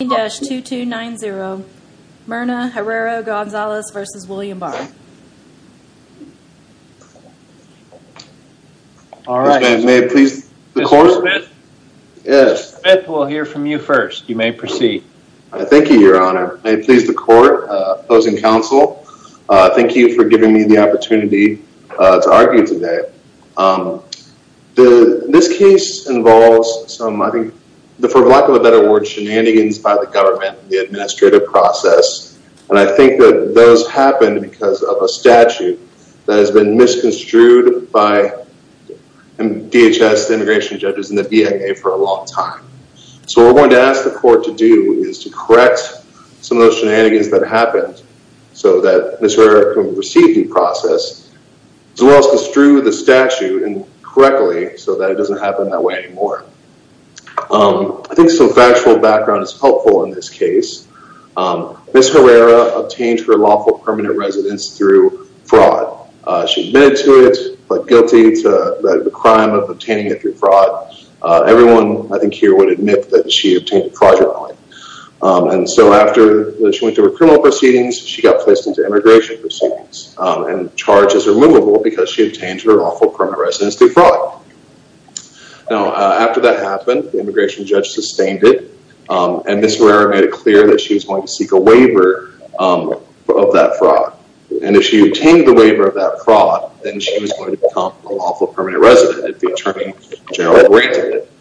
May it please the court? Mr. Smith, we'll hear from you first. You may proceed. Thank you, your honor. May it please the court, opposing counsel, thank you for giving me the opportunity to argue today. This case involves some, I think, for lack of a better word, shenanigans by the government, the administrative process, and I think that those happened because of a statute that has been misconstrued by DHS, the immigration judges, and the BIA for a long time. So what we're going to ask the court to do is to correct some of those shenanigans that happened so that Ms. Herrera can receive due process as well as construe the statute and correctly so that it doesn't happen that way anymore. I think some factual background is helpful in this case. Ms. Herrera obtained her lawful permanent residence through fraud. She admitted to it, but guilty to the crime of obtaining it through fraud. Everyone, I think, here would admit that she obtained it fraudulently. And so after she went through her criminal proceedings, she got placed into immigration proceedings and charges were movable because she obtained her lawful permanent residence through fraud. Now, after that happened, the immigration judge sustained it, and Ms. Herrera made it clear that she was going to seek a waiver of that fraud. And if she obtained the waiver of that fraud, then she was going to become a lawful permanent resident if the attorney jail granted it.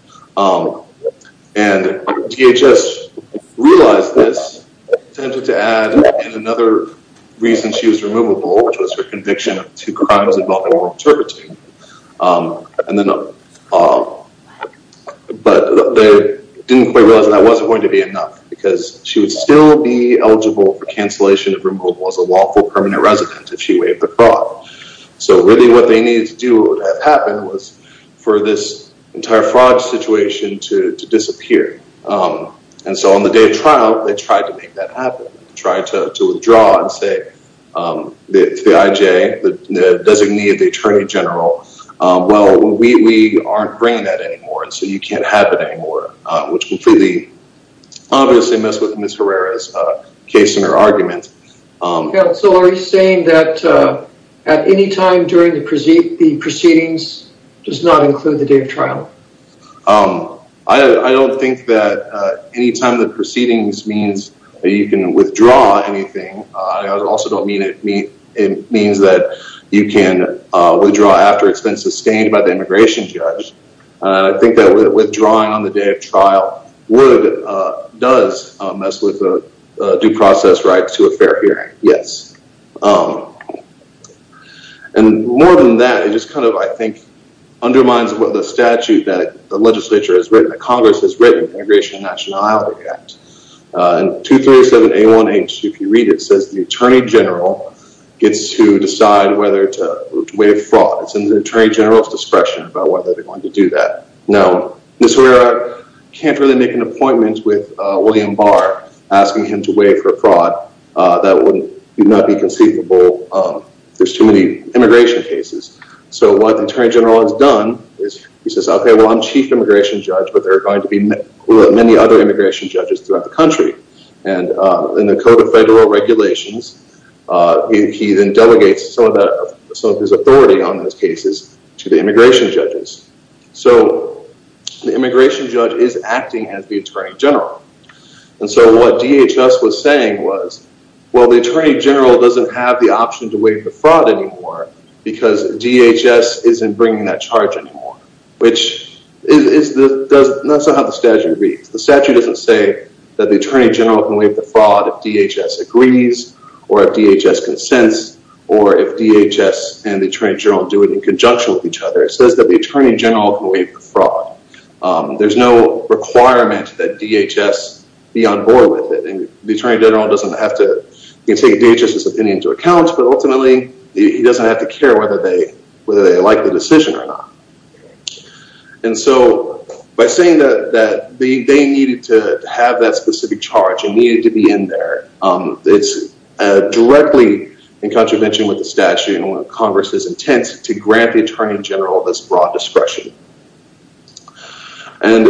And DHS realized this, attempted to add in another reason she was removable, which was her conviction of two crimes involving oral interpreting. But they didn't quite realize that that wasn't going to be enough because she would still be eligible for cancellation of removal as a lawful permanent resident if she waived the fraud. So really what they needed to have happen was for this entire fraud situation to disappear. And so on the day of trial, they tried to make that happen, tried to withdraw and say to the IJ, the designee of the attorney general, well, we aren't bringing that anymore, and so you can't have it anymore, which completely obviously messed with Ms. Herrera's case and her arguments. Counsel, are you saying that at any time during the proceedings does not include the day of trial? I don't think that any time the proceedings means that you can withdraw anything. I also don't mean it means that you can withdraw after it's been sustained by the immigration judge. I think that withdrawing on the day of trial does mess with the due process right to a fair hearing, yes. And more than that, it just kind of, I think, undermines what the statute that the legislature has written, the Congress has written, the Immigration and Nationality Act. And 237A1H, if you read it, says the attorney general gets to decide whether to waive fraud. It's in the case of Ms. Herrera, can't really make an appointment with William Barr asking him to waive her fraud. That would not be conceivable. There's too many immigration cases. So what the attorney general has done is he says, okay, well, I'm chief immigration judge, but there are going to be many other immigration judges throughout the country. And in the Code of Federal Regulations, he then delegates some of his authority on those cases to the immigration judges. So the immigration judge is acting as the attorney general. And so what DHS was saying was, well, the attorney general doesn't have the option to waive the fraud anymore because DHS isn't bringing that charge anymore. That's not how the statute reads. The statute doesn't say that the attorney general can waive the fraud if DHS agrees or if DHS consents, or if DHS and the attorney general can waive the fraud. There's no requirement that DHS be on board with it. And the attorney general doesn't have to take DHS's opinion into account, but ultimately, he doesn't have to care whether they like the decision or not. And so by saying that they needed to have that specific charge and needed to be in there, it's directly in contravention with the statute and what Congress is intent to grant the attorney general this broad discretion. And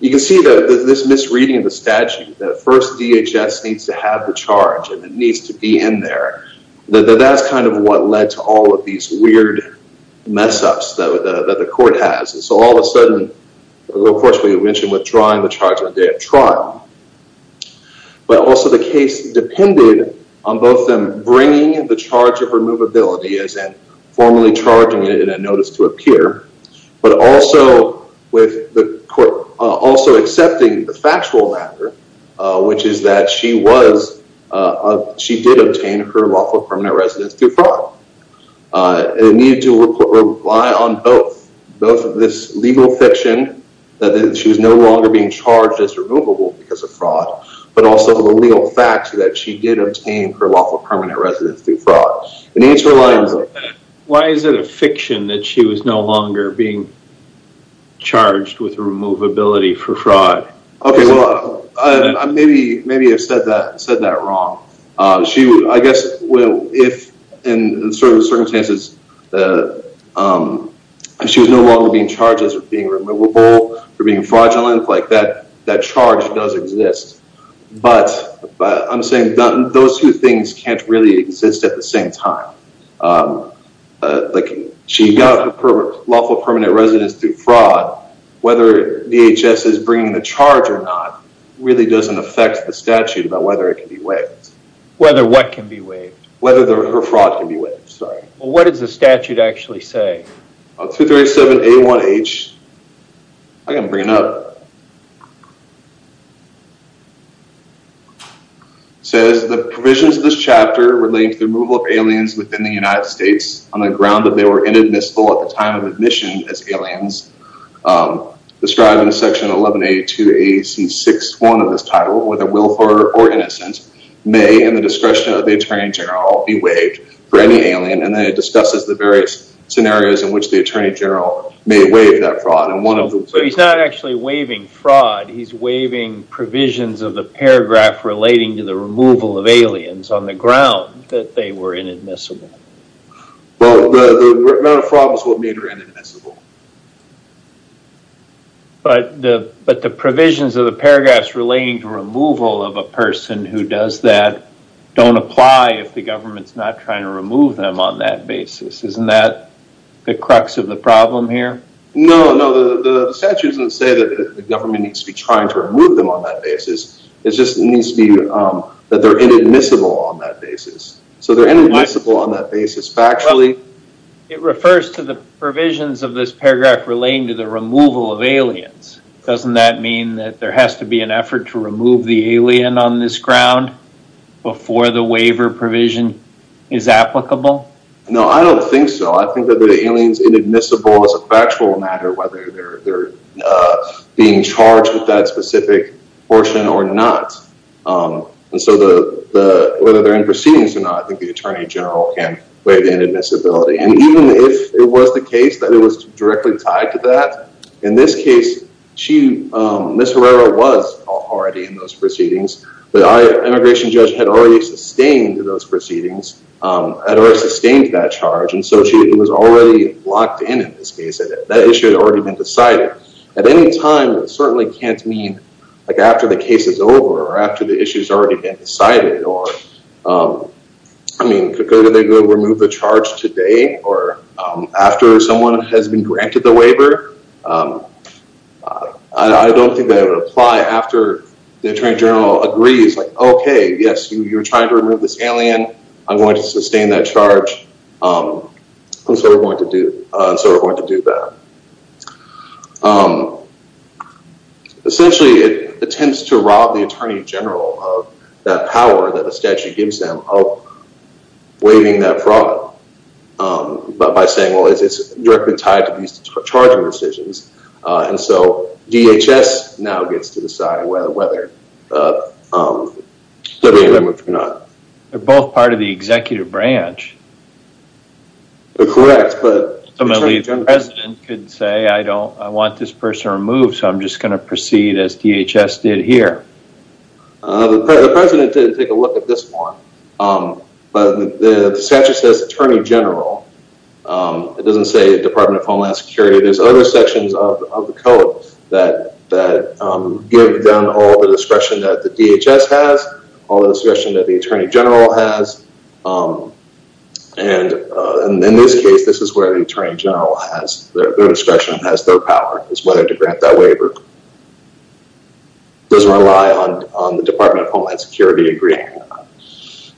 you can see that this misreading of the statute, that first DHS needs to have the charge and it needs to be in there, that that's kind of what led to all of these weird mess-ups that the court has. And so all of a sudden, of course, we mentioned withdrawing the charge on the day of on both them bringing the charge of removability, as in formally charging it in a notice to appear, but also with the court also accepting the factual matter, which is that she was, she did obtain her lawful permanent residence through fraud. And it needed to rely on both both of this legal fiction that she was no longer being charged as removable because of fraud, but also the legal facts that she did obtain her lawful permanent residence through fraud. Why is it a fiction that she was no longer being charged with removability for fraud? Okay, well, maybe I've said that wrong. I guess, well, if in certain circumstances, she was no longer being charged as being removable or being fraudulent, like that charge does exist. But I'm saying those two things can't really exist at the same time. Like she got her lawful permanent residence through fraud, whether DHS is bringing the charge or not really doesn't affect the statute about whether it can be waived. Whether what can be waived? Whether her fraud can be waived, sorry. Well, what does the statute actually say? 237A1H, I can't bring it up. It says, the provisions of this chapter relate to the removal of aliens within the United States on the ground that they were inadmissible at the time of admission as aliens. Described in the section 1182AC61 of this title, whether willful or innocent, may in the discretion of the Attorney General be waived for any alien. And then it discusses the various scenarios in which the Attorney General may waive that fraud. He's not actually waiving fraud, he's waiving provisions of the paragraph relating to the removal of aliens on the ground that they were inadmissible. Well, the amount of fraud was what made her inadmissible. But the provisions of the paragraphs relating to removal of a person who does that don't apply if the government's not trying to remove them on that basis. Isn't that the crux of the problem here? No, the statute doesn't say that the government needs to be trying to remove them on that basis. It just needs to be that they're inadmissible on that basis. So they're inadmissible on that basis factually. It refers to the provisions of this paragraph relating to the removal of aliens. Doesn't that mean that there has to be an effort to remove the alien on this ground before the waiver provision is applicable? No, I don't think so. I think that the aliens inadmissible as a factual matter, whether they're being charged with that specific portion or not. And so whether they're in proceedings or not, I think the Attorney General can waive inadmissibility. And even if it was the case that it was directly tied to that, in this case, Ms. Herrera was already in those proceedings. The immigration judge had already sustained proceedings, had already sustained that charge. And so she was already locked in, in this case, that that issue had already been decided. At any time, it certainly can't mean after the case is over or after the issue has already been decided. I mean, could they remove the charge today or after someone has been granted the waiver? I don't think that would apply after the Attorney General agrees, like, okay, yes, you're trying to remove this alien. I'm going to sustain that charge. And so we're going to do that. Essentially, it attempts to rob the Attorney General of that power that the statute gives them of waiving that fraud by saying, well, it's directly tied to these charging decisions. And so DHS now gets to decide whether they're being removed or not. They're both part of the executive branch. Correct, but... I'm going to leave the President could say, I want this person removed, so I'm just going to proceed as DHS did here. The President didn't take a look at this one, but the statute says Attorney General. It doesn't say Department of Homeland Security. There's other sections of the code that give them all the discretion that the DHS has, all the discretion that the Attorney General has. And in this case, this is where the Attorney General has their discretion, has their power, is whether to grant that waiver. It doesn't rely on the Department of Homeland Security agreeing.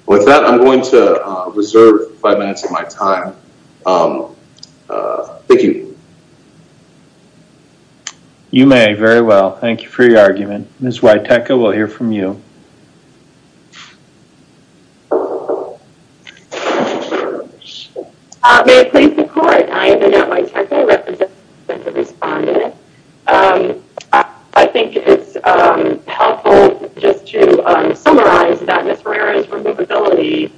With that, I'm going to reserve five minutes of my time. Thank you. You may, very well. Thank you for your argument. Ms. Waiteka, we'll hear from you. May it please the Court, I am the Network Technical Representative and the Respondent. I think it's helpful just to summarize that Ms. Herrera's removability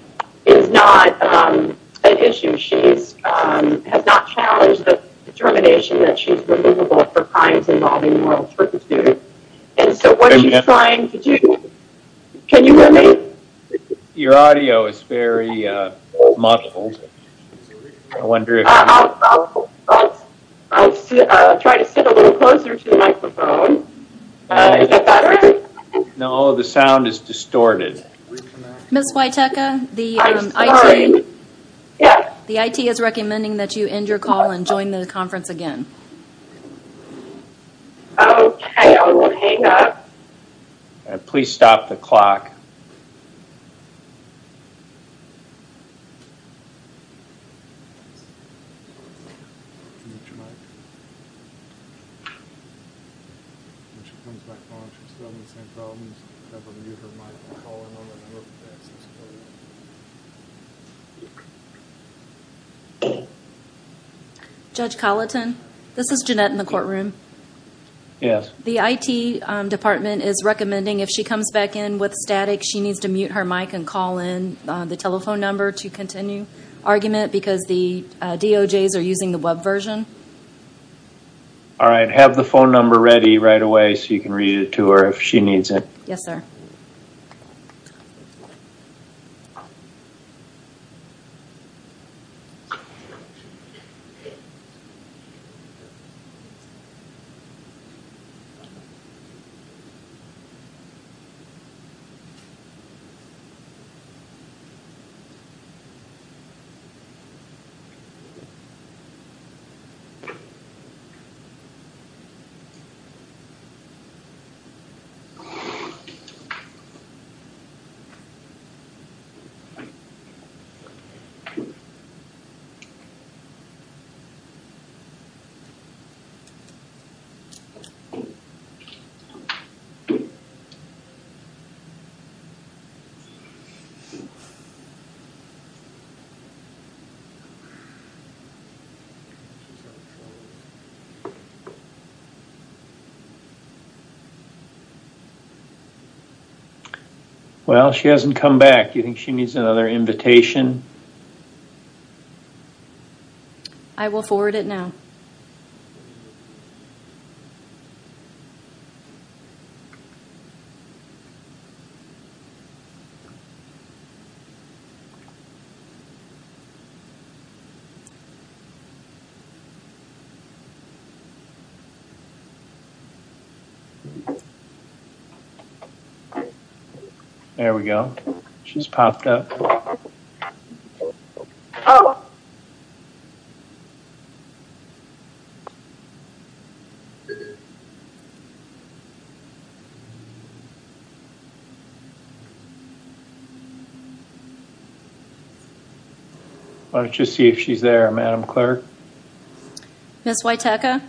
is not an issue. She has not challenged the determination that she's removable for crimes involving moral pursuit. And so what she's trying to do, can you hear me? Your audio is very muffled. I'll try to sit a little closer to the microphone. Is that better? No, the sound is distorted. Ms. Waiteka, the IT is recommending that you end your call and join the conference again. Okay, I will hang up. Please stop the clock. Judge Colleton, this is Jeanette in the courtroom. Yes. The IT Department is recommending if she comes back in with static, she needs to mute her mic and call in the telephone number to continue argument because the DOJs are using the web version. All right, have the phone number ready right away so you can read it to her if she needs it. Yes, sir. Okay. Well, she hasn't come back. You think she needs another invitation? I will forward it now. Okay. There we go. She's popped up. Why don't you see if she's there, Madam Clerk? Ms. Waiteka?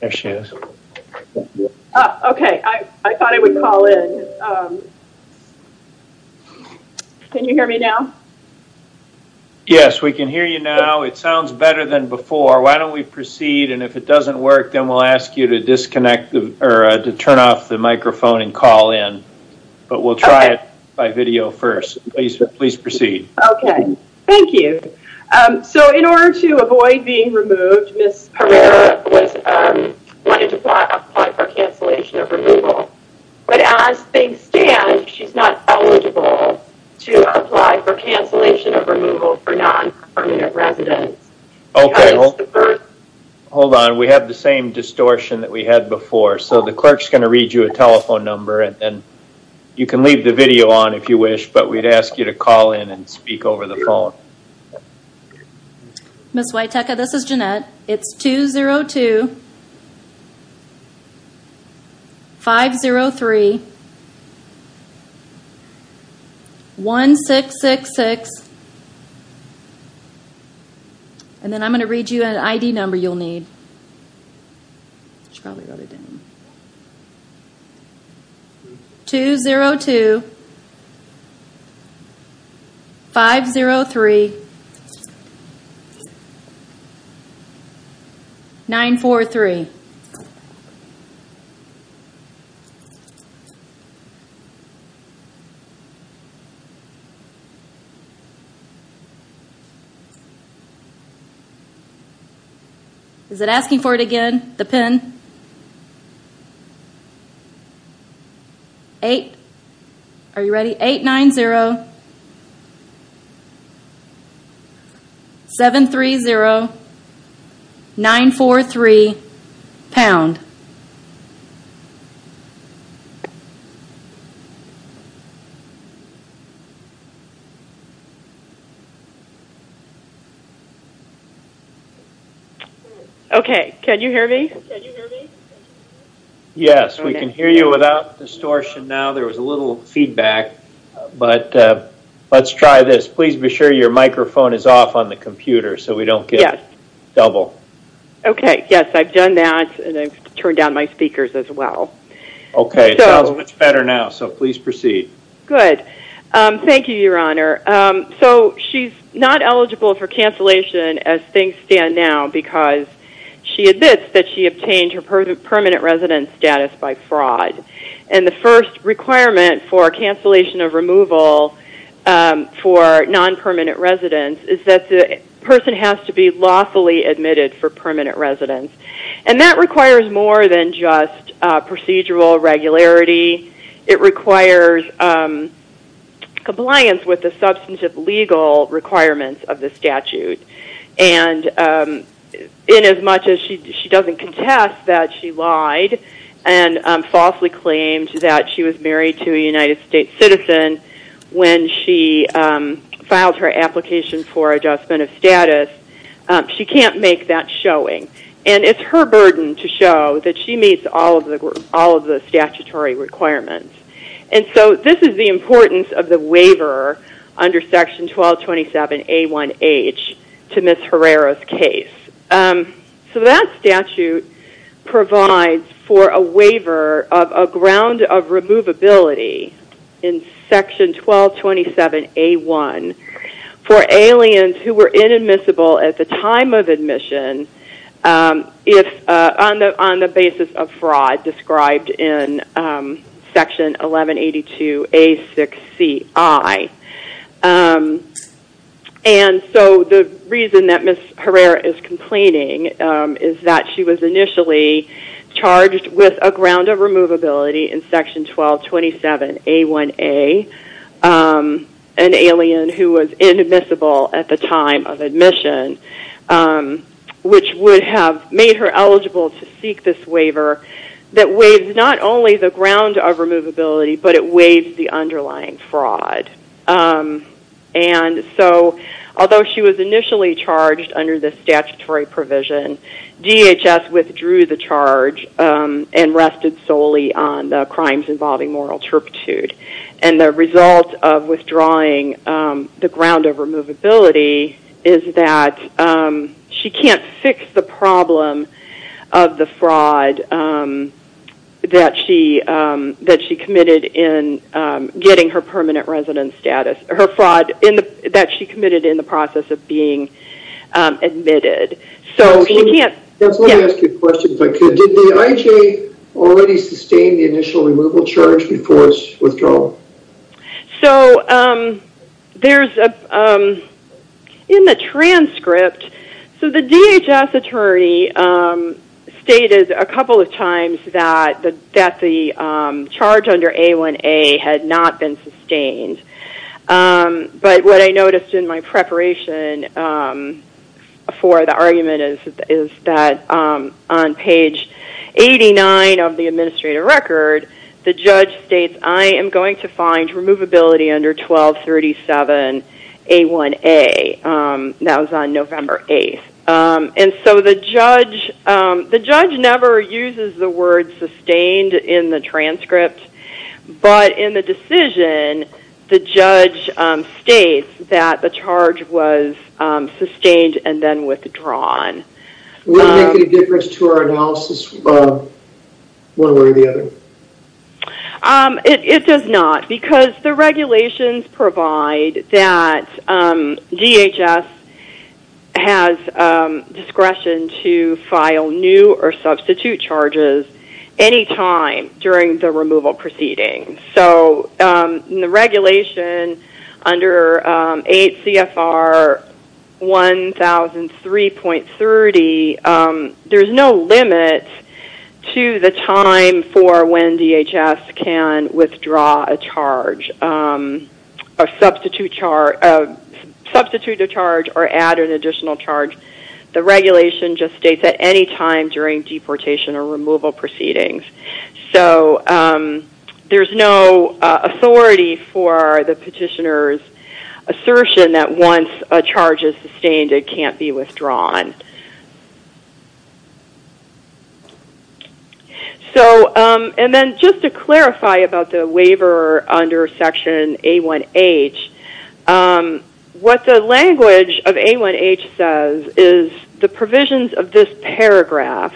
There she is. Okay, I thought I would call in. Can you hear me now? Yes, we can hear you now. It sounds better than before. Why don't we proceed and if it doesn't work, then we will ask you to turn off the microphone and call in. We will try it by video first. Please proceed. Okay. Thank you. So in order to avoid being removed, Ms. Herrera wanted to apply for cancellation of removal, but as things stand, she's not eligible to apply for that. The clerk is going to read you a telephone number, and you can leave the video on if you wish, but we would ask you to call in and speak over the phone. Ms. Waiteka, this is Jeanette. It's 202-503-1666, and then I'm going to read you an ID number you'll need. 202-503-943. Is it asking for it again, the PIN? Are you ready? 890-730-943. Pound. Okay. Can you hear me? Yes, we can hear you without distortion now. There was a little feedback, but let's try this. Please be sure your microphone is off on the computer so we don't get double. Okay. Yes, I've done that, and I've turned down my speakers as well. Okay. It sounds much better now, so please proceed. Good. Thank you, Your Honor. So she's not eligible for cancellation as things stand now because she admits that she obtained her permanent residence status by fraud, and the first requirement for cancellation of removal for non-permanent residence is that the person has to be lawfully admitted for permanent residence, and that requires more than just procedural regularity. It requires compliance with the substantive legal requirements of the statute, and inasmuch as she doesn't contest that she lied and falsely claimed that she was married to a United States citizen when she filed her application for adjustment of status, she can't make that showing, and it's her burden to show that she meets all of the statutory requirements, and so this is the importance of the waiver under Section 1227A1H to Ms. Herrera's case. So that statute provides for a waiver of a ground of removability in Section 1227A1 for aliens who were inadmissible at the time of admission if on the basis of fraud described in Section 1182A6CI, and so the reason that Ms. Herrera is complaining is that she was initially charged with a ground of removability in Section 1227A1A, an alien who was inadmissible at the time of admission, which would have made her eligible to seek this waiver that waived not only the ground of removability, but it waived the underlying fraud, and so although she was initially charged under the statutory provision, DHS withdrew the withdrawing the ground of removability is that she can't fix the problem of the fraud that she committed in getting her permanent residence status, her fraud that she committed in the process of being admitted. So she can't... Let me ask you a question, if I could. Did the So there's a... In the transcript, so the DHS attorney stated a couple of times that the charge under A1A had not been sustained, but what I noticed in my preparation for the argument is that on page 89 of the administrative record, the judge states, I am going to find removability under 1237A1A. That was on November 8th, and so the judge never uses the word sustained in the transcript, but in the decision, the judge states that the charge was sustained and then withdrawn. Would it make any difference to our analysis one way or the other? It does not, because the regulations provide that DHS has discretion to file new or substitute charges any time during the removal proceeding. So in the regulation under ACFR 1003.30, there's no limit to the time for when DHS can withdraw a charge or substitute a charge or add an additional charge. The regulation just states at any time during deportation or removal proceedings. So there's no authority for the petitioner's assertion that once a charge is sustained, it can't be withdrawn. So and then just to clarify about the waiver under section A1H, what the language of A1H says is the provisions of this paragraph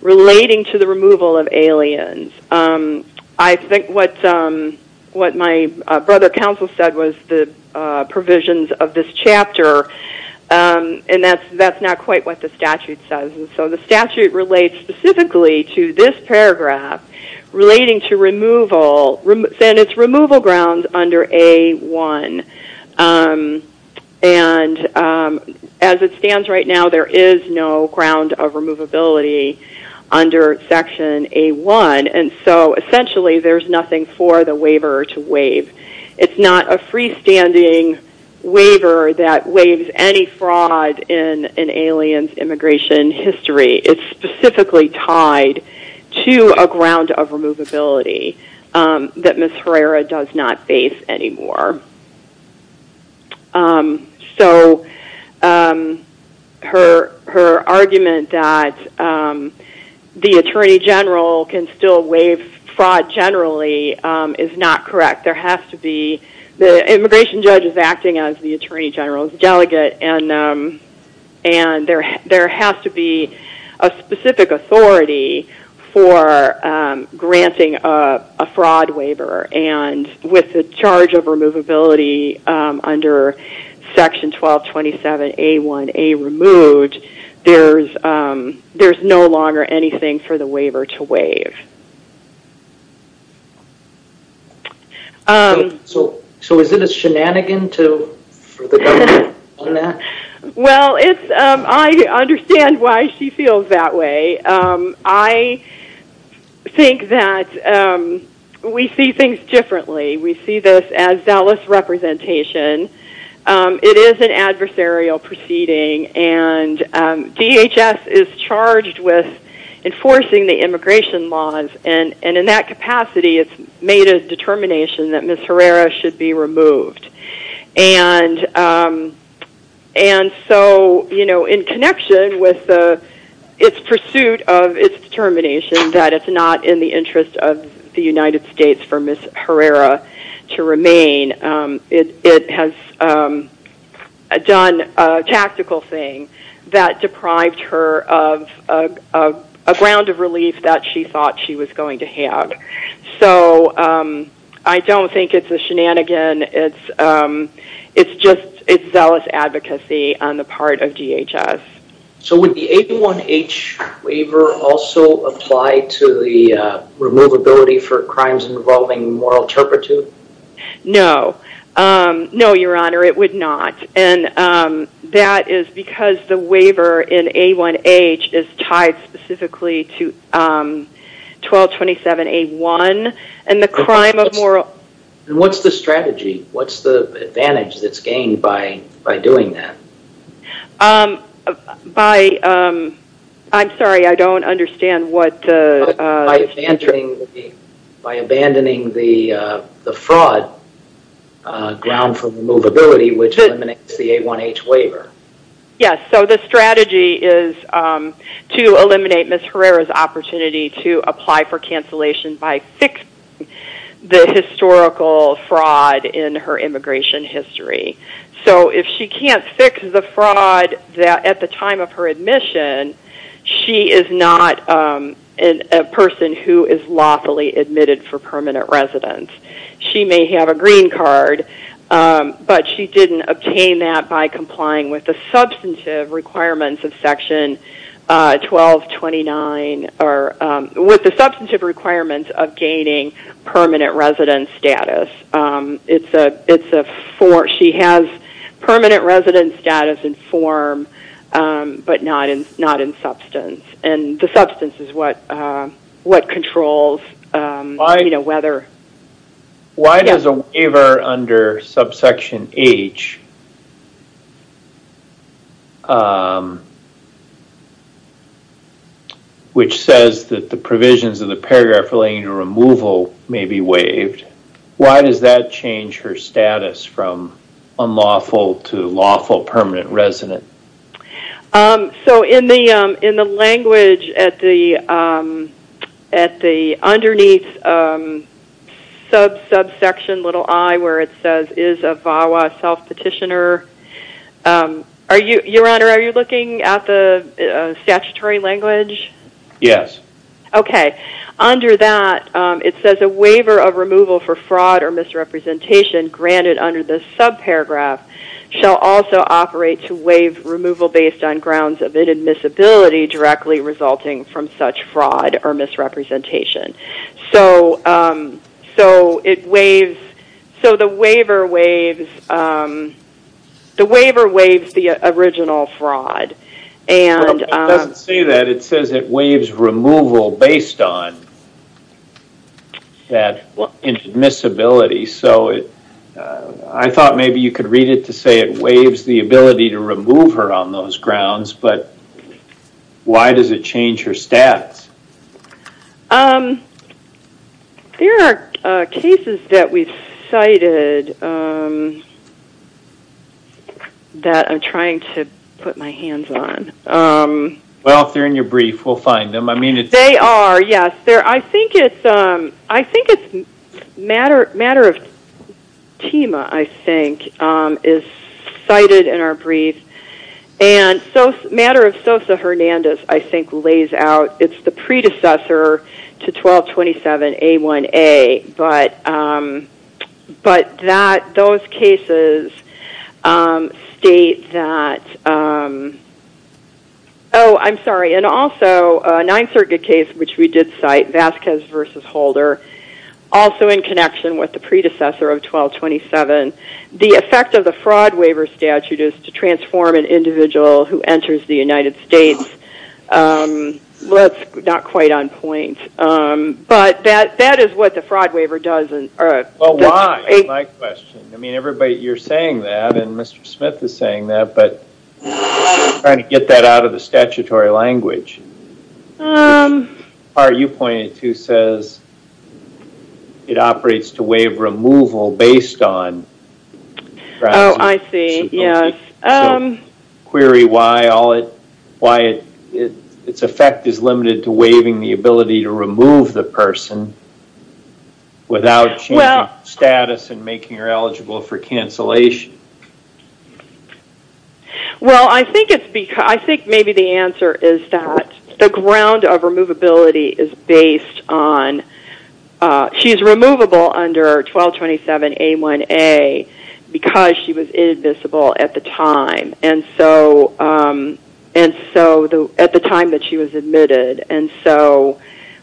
relating to the removal of aliens. I think what my brother counsel said was the provisions of this chapter, and that's not quite what the statute says. So the statute relates specifically to this paragraph relating to removal, and it's removal grounds under A1. And as it stands right now, there is no ground of removability under section A1. And so essentially there's nothing for the waiver to waive. It's not a freestanding waiver that waives any fraud in an alien's immigration history. It's specifically tied to a ground of removability that Ms. Herrera does not face anymore. So her argument that the attorney general can still waive fraud generally is not correct. There has to be the immigration judge is acting as the attorney general's delegate, and there has to be a specific authority for granting a fraud waiver. And with the charge of removability under section 1227A1A removed, there's no longer anything for the waiver to waive. So is it a shenanigan for the government? Well, I understand why she feels that way. I think that we see things differently. We see this as zealous representation. It is an adversarial proceeding, and DHS is charged with enforcing the immigration laws. And in that capacity, it's made a determination that Ms. Herrera should be removed. And so in connection with its pursuit of its determination that it's not in the interest of the United States for Ms. Herrera to remain, it has done a tactical thing that deprived her of a ground of relief that she thought she was going to have. So I don't think it's a shenanigan. It's just zealous advocacy on the part of DHS. So would the A1H waiver also apply to the removability for crimes involving moral turpitude? No. No, Your Honor, it would not. And that is because the waiver in A1H is tied specifically to 1227A1 and the crime of moral... And what's the strategy? What's the advantage that's gained by doing that? By... I'm sorry, I don't understand what... By abandoning the fraud ground for removability, which eliminates the A1H waiver. Yes. So the strategy is to eliminate Ms. Herrera's opportunity to apply for cancellation by fixing the historical fraud in her immigration history. So if she can't fix the fraud at the time of her who is lawfully admitted for permanent residence. She may have a green card, but she didn't obtain that by complying with the substantive requirements of Section 1229, or with the substantive requirements of gaining permanent residence status. It's a force. She has permanent residence status in form, but not in substance. And the substance is what controls whether... Why does a waiver under subsection H, which says that the provisions of the paragraph relating to removal may be waived, why does that resonate? So in the language at the underneath subsection little I, where it says is a VAWA self-petitioner... Your Honor, are you looking at the statutory language? Yes. Okay. Under that, it says a waiver of removal for fraud or misrepresentation granted under this subparagraph shall also operate to waive removal based on grounds of admissibility directly resulting from such fraud or misrepresentation. So it waives... So the waiver waives the original fraud. It doesn't say that. It says it waives removal based on that admissibility. So I thought maybe you could read it to say it waives the ability to remove her on those grounds, but why does it change her status? There are cases that we've cited that I'm trying to put my hands on. Well, if they're in your brief, we'll find them. I mean... Tima, I think, is cited in our brief. And matter of Sosa Hernandez, I think, lays out it's the predecessor to 1227A1A, but those cases state that... Oh, I'm sorry. And also a Ninth Circuit case which we did cite, Vasquez v. Holder, also in connection with the predecessor of 1227, the effect of the fraud waiver statute is to transform an individual who enters the United States. That's not quite on point, but that is what the fraud waiver does. Well, why? That's my question. I mean, everybody, you're saying that and Mr. Smith is saying that, but I'm trying to get that out of the statutory language. The part you pointed to says it operates to waive removal based on... Oh, I see. Yes. Query why its effect is limited to waiving the ability to remove the person without changing status and making her eligible for cancellation. Well, I think maybe the answer is that the ground of removability is based on she's removable under 1227A1A because she was invisible at the time that she was admitted, and so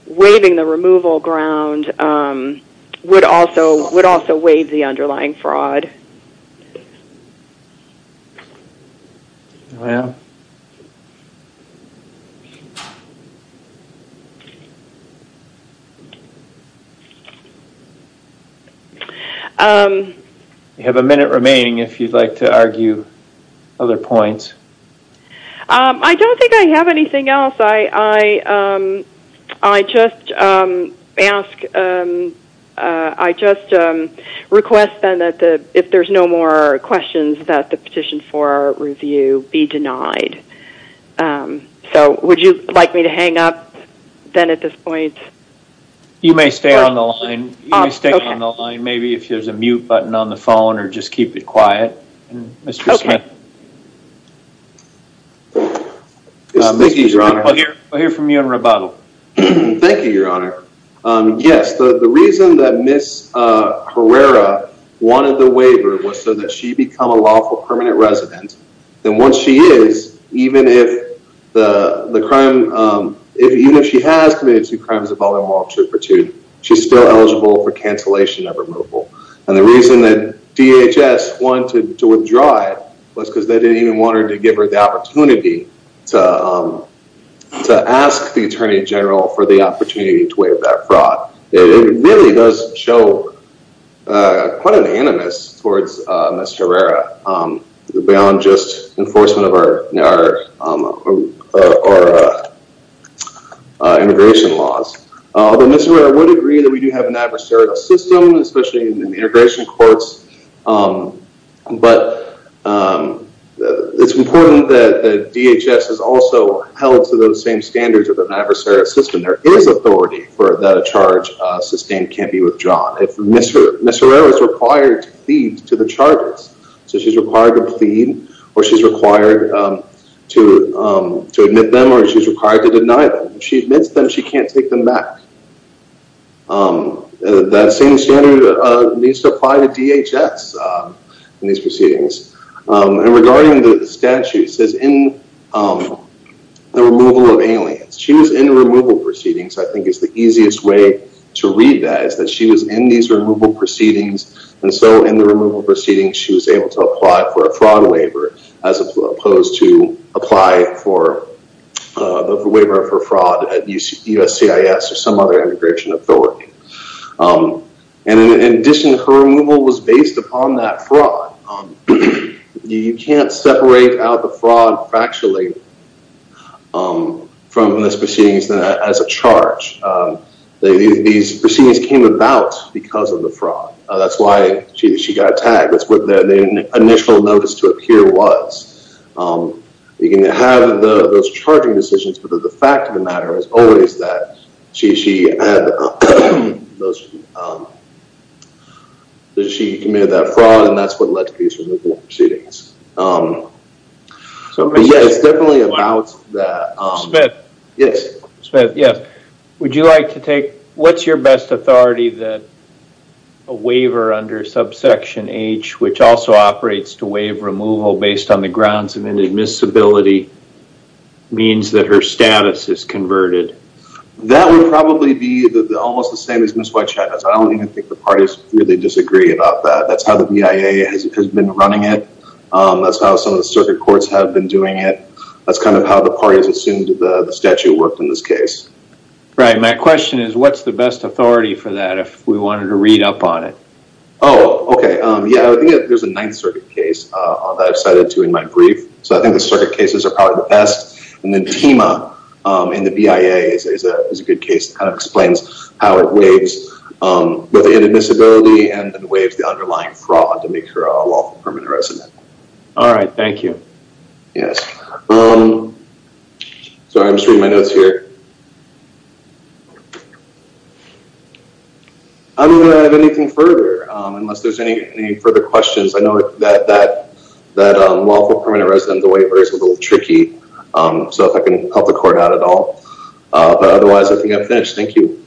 waiving the removal ground would also waive the underlying fraud. Well, you have a minute remaining if you'd like to argue other points. I don't think I have anything else. I just request then that if there's no more questions that the petition for review be denied. So would you like me to hang up then at this point? You may stay on the line. You may stay on the line. Maybe if there's a mute button on the phone or just keep it quiet. Mr. Smith. I'll hear from you in rebuttal. Thank you, Your Honor. Yes. The reason that Ms. Herrera wanted the waiver was so that she become a lawful permanent resident. Then once she is, even if the crime, even if she has committed two crimes involving Walter Pertut, she's still eligible for cancellation of removal. And the reason that DHS wanted to withdraw it was because they didn't even want her to give her the opportunity to ask the Attorney General for the opportunity to waive that fraud. It really does show quite an animus towards Ms. Herrera beyond just enforcement of our immigration laws. Although Ms. Herrera would agree that we do have an adversarial system, especially in integration courts. But it's important that DHS is also held to those same standards of an adversarial system. There is authority for the charge sustained can't be withdrawn. Ms. Herrera is required to plead to the charges. So she's required to plead or she's required to admit them or she's required to deny them. If she admits them, she can't take them back. That same standard needs to apply to DHS in these proceedings. And regarding the statute, it says in the removal of aliens, she was in removal proceedings. I think it's the easiest way to read that is that she was in these removal proceedings. And so in the removal proceedings, she was able to apply for a fraud waiver as opposed to apply for a waiver for fraud at USCIS or some other immigration authority. And in addition, her removal was based upon that fraud. You can't separate out the fraud factually from this proceedings as a charge. These proceedings came about because of the fraud. That's why she got attacked. That's what the initial notice to appear was. You can have those charging decisions, but the fact of the matter is always that she committed that fraud and that's what led to these removal proceedings. So, yeah, it's definitely about that. Smith. Yes. Smith, yes. Would you like to take... What's your best authority that a waiver under subsection H, which also operates to waive removal based on the grounds of inadmissibility means that her status is converted? That would probably be almost the same as Ms. White-Chavez. I don't even think the parties really disagree about that. That's how the BIA has been running it. That's how some of the circuit courts have been doing it. That's kind of how the parties assumed the statute worked in this case. Right. My question is, what's the best authority for that if we wanted to read up on it? Oh, okay. Yeah, I think there's a Ninth Circuit case that I've cited to in my brief. So I think the circuit cases are probably the best. And then TEMA in the BIA is a good case that kind of and then waives the underlying fraud to make her a lawful permanent resident. All right. Thank you. Yes. Sorry, I'm just reading my notes here. I don't have anything further unless there's any further questions. I know that lawful permanent resident waiver is a little tricky. So if I can help the court out at all, but otherwise I think I'm finished. Thank you.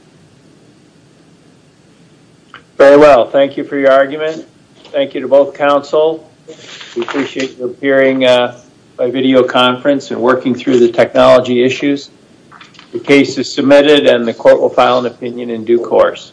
Very well. Thank you for your argument. Thank you to both counsel. We appreciate your appearing by video conference and working through the technology issues. The case is submitted and the court will file an opinion in due course.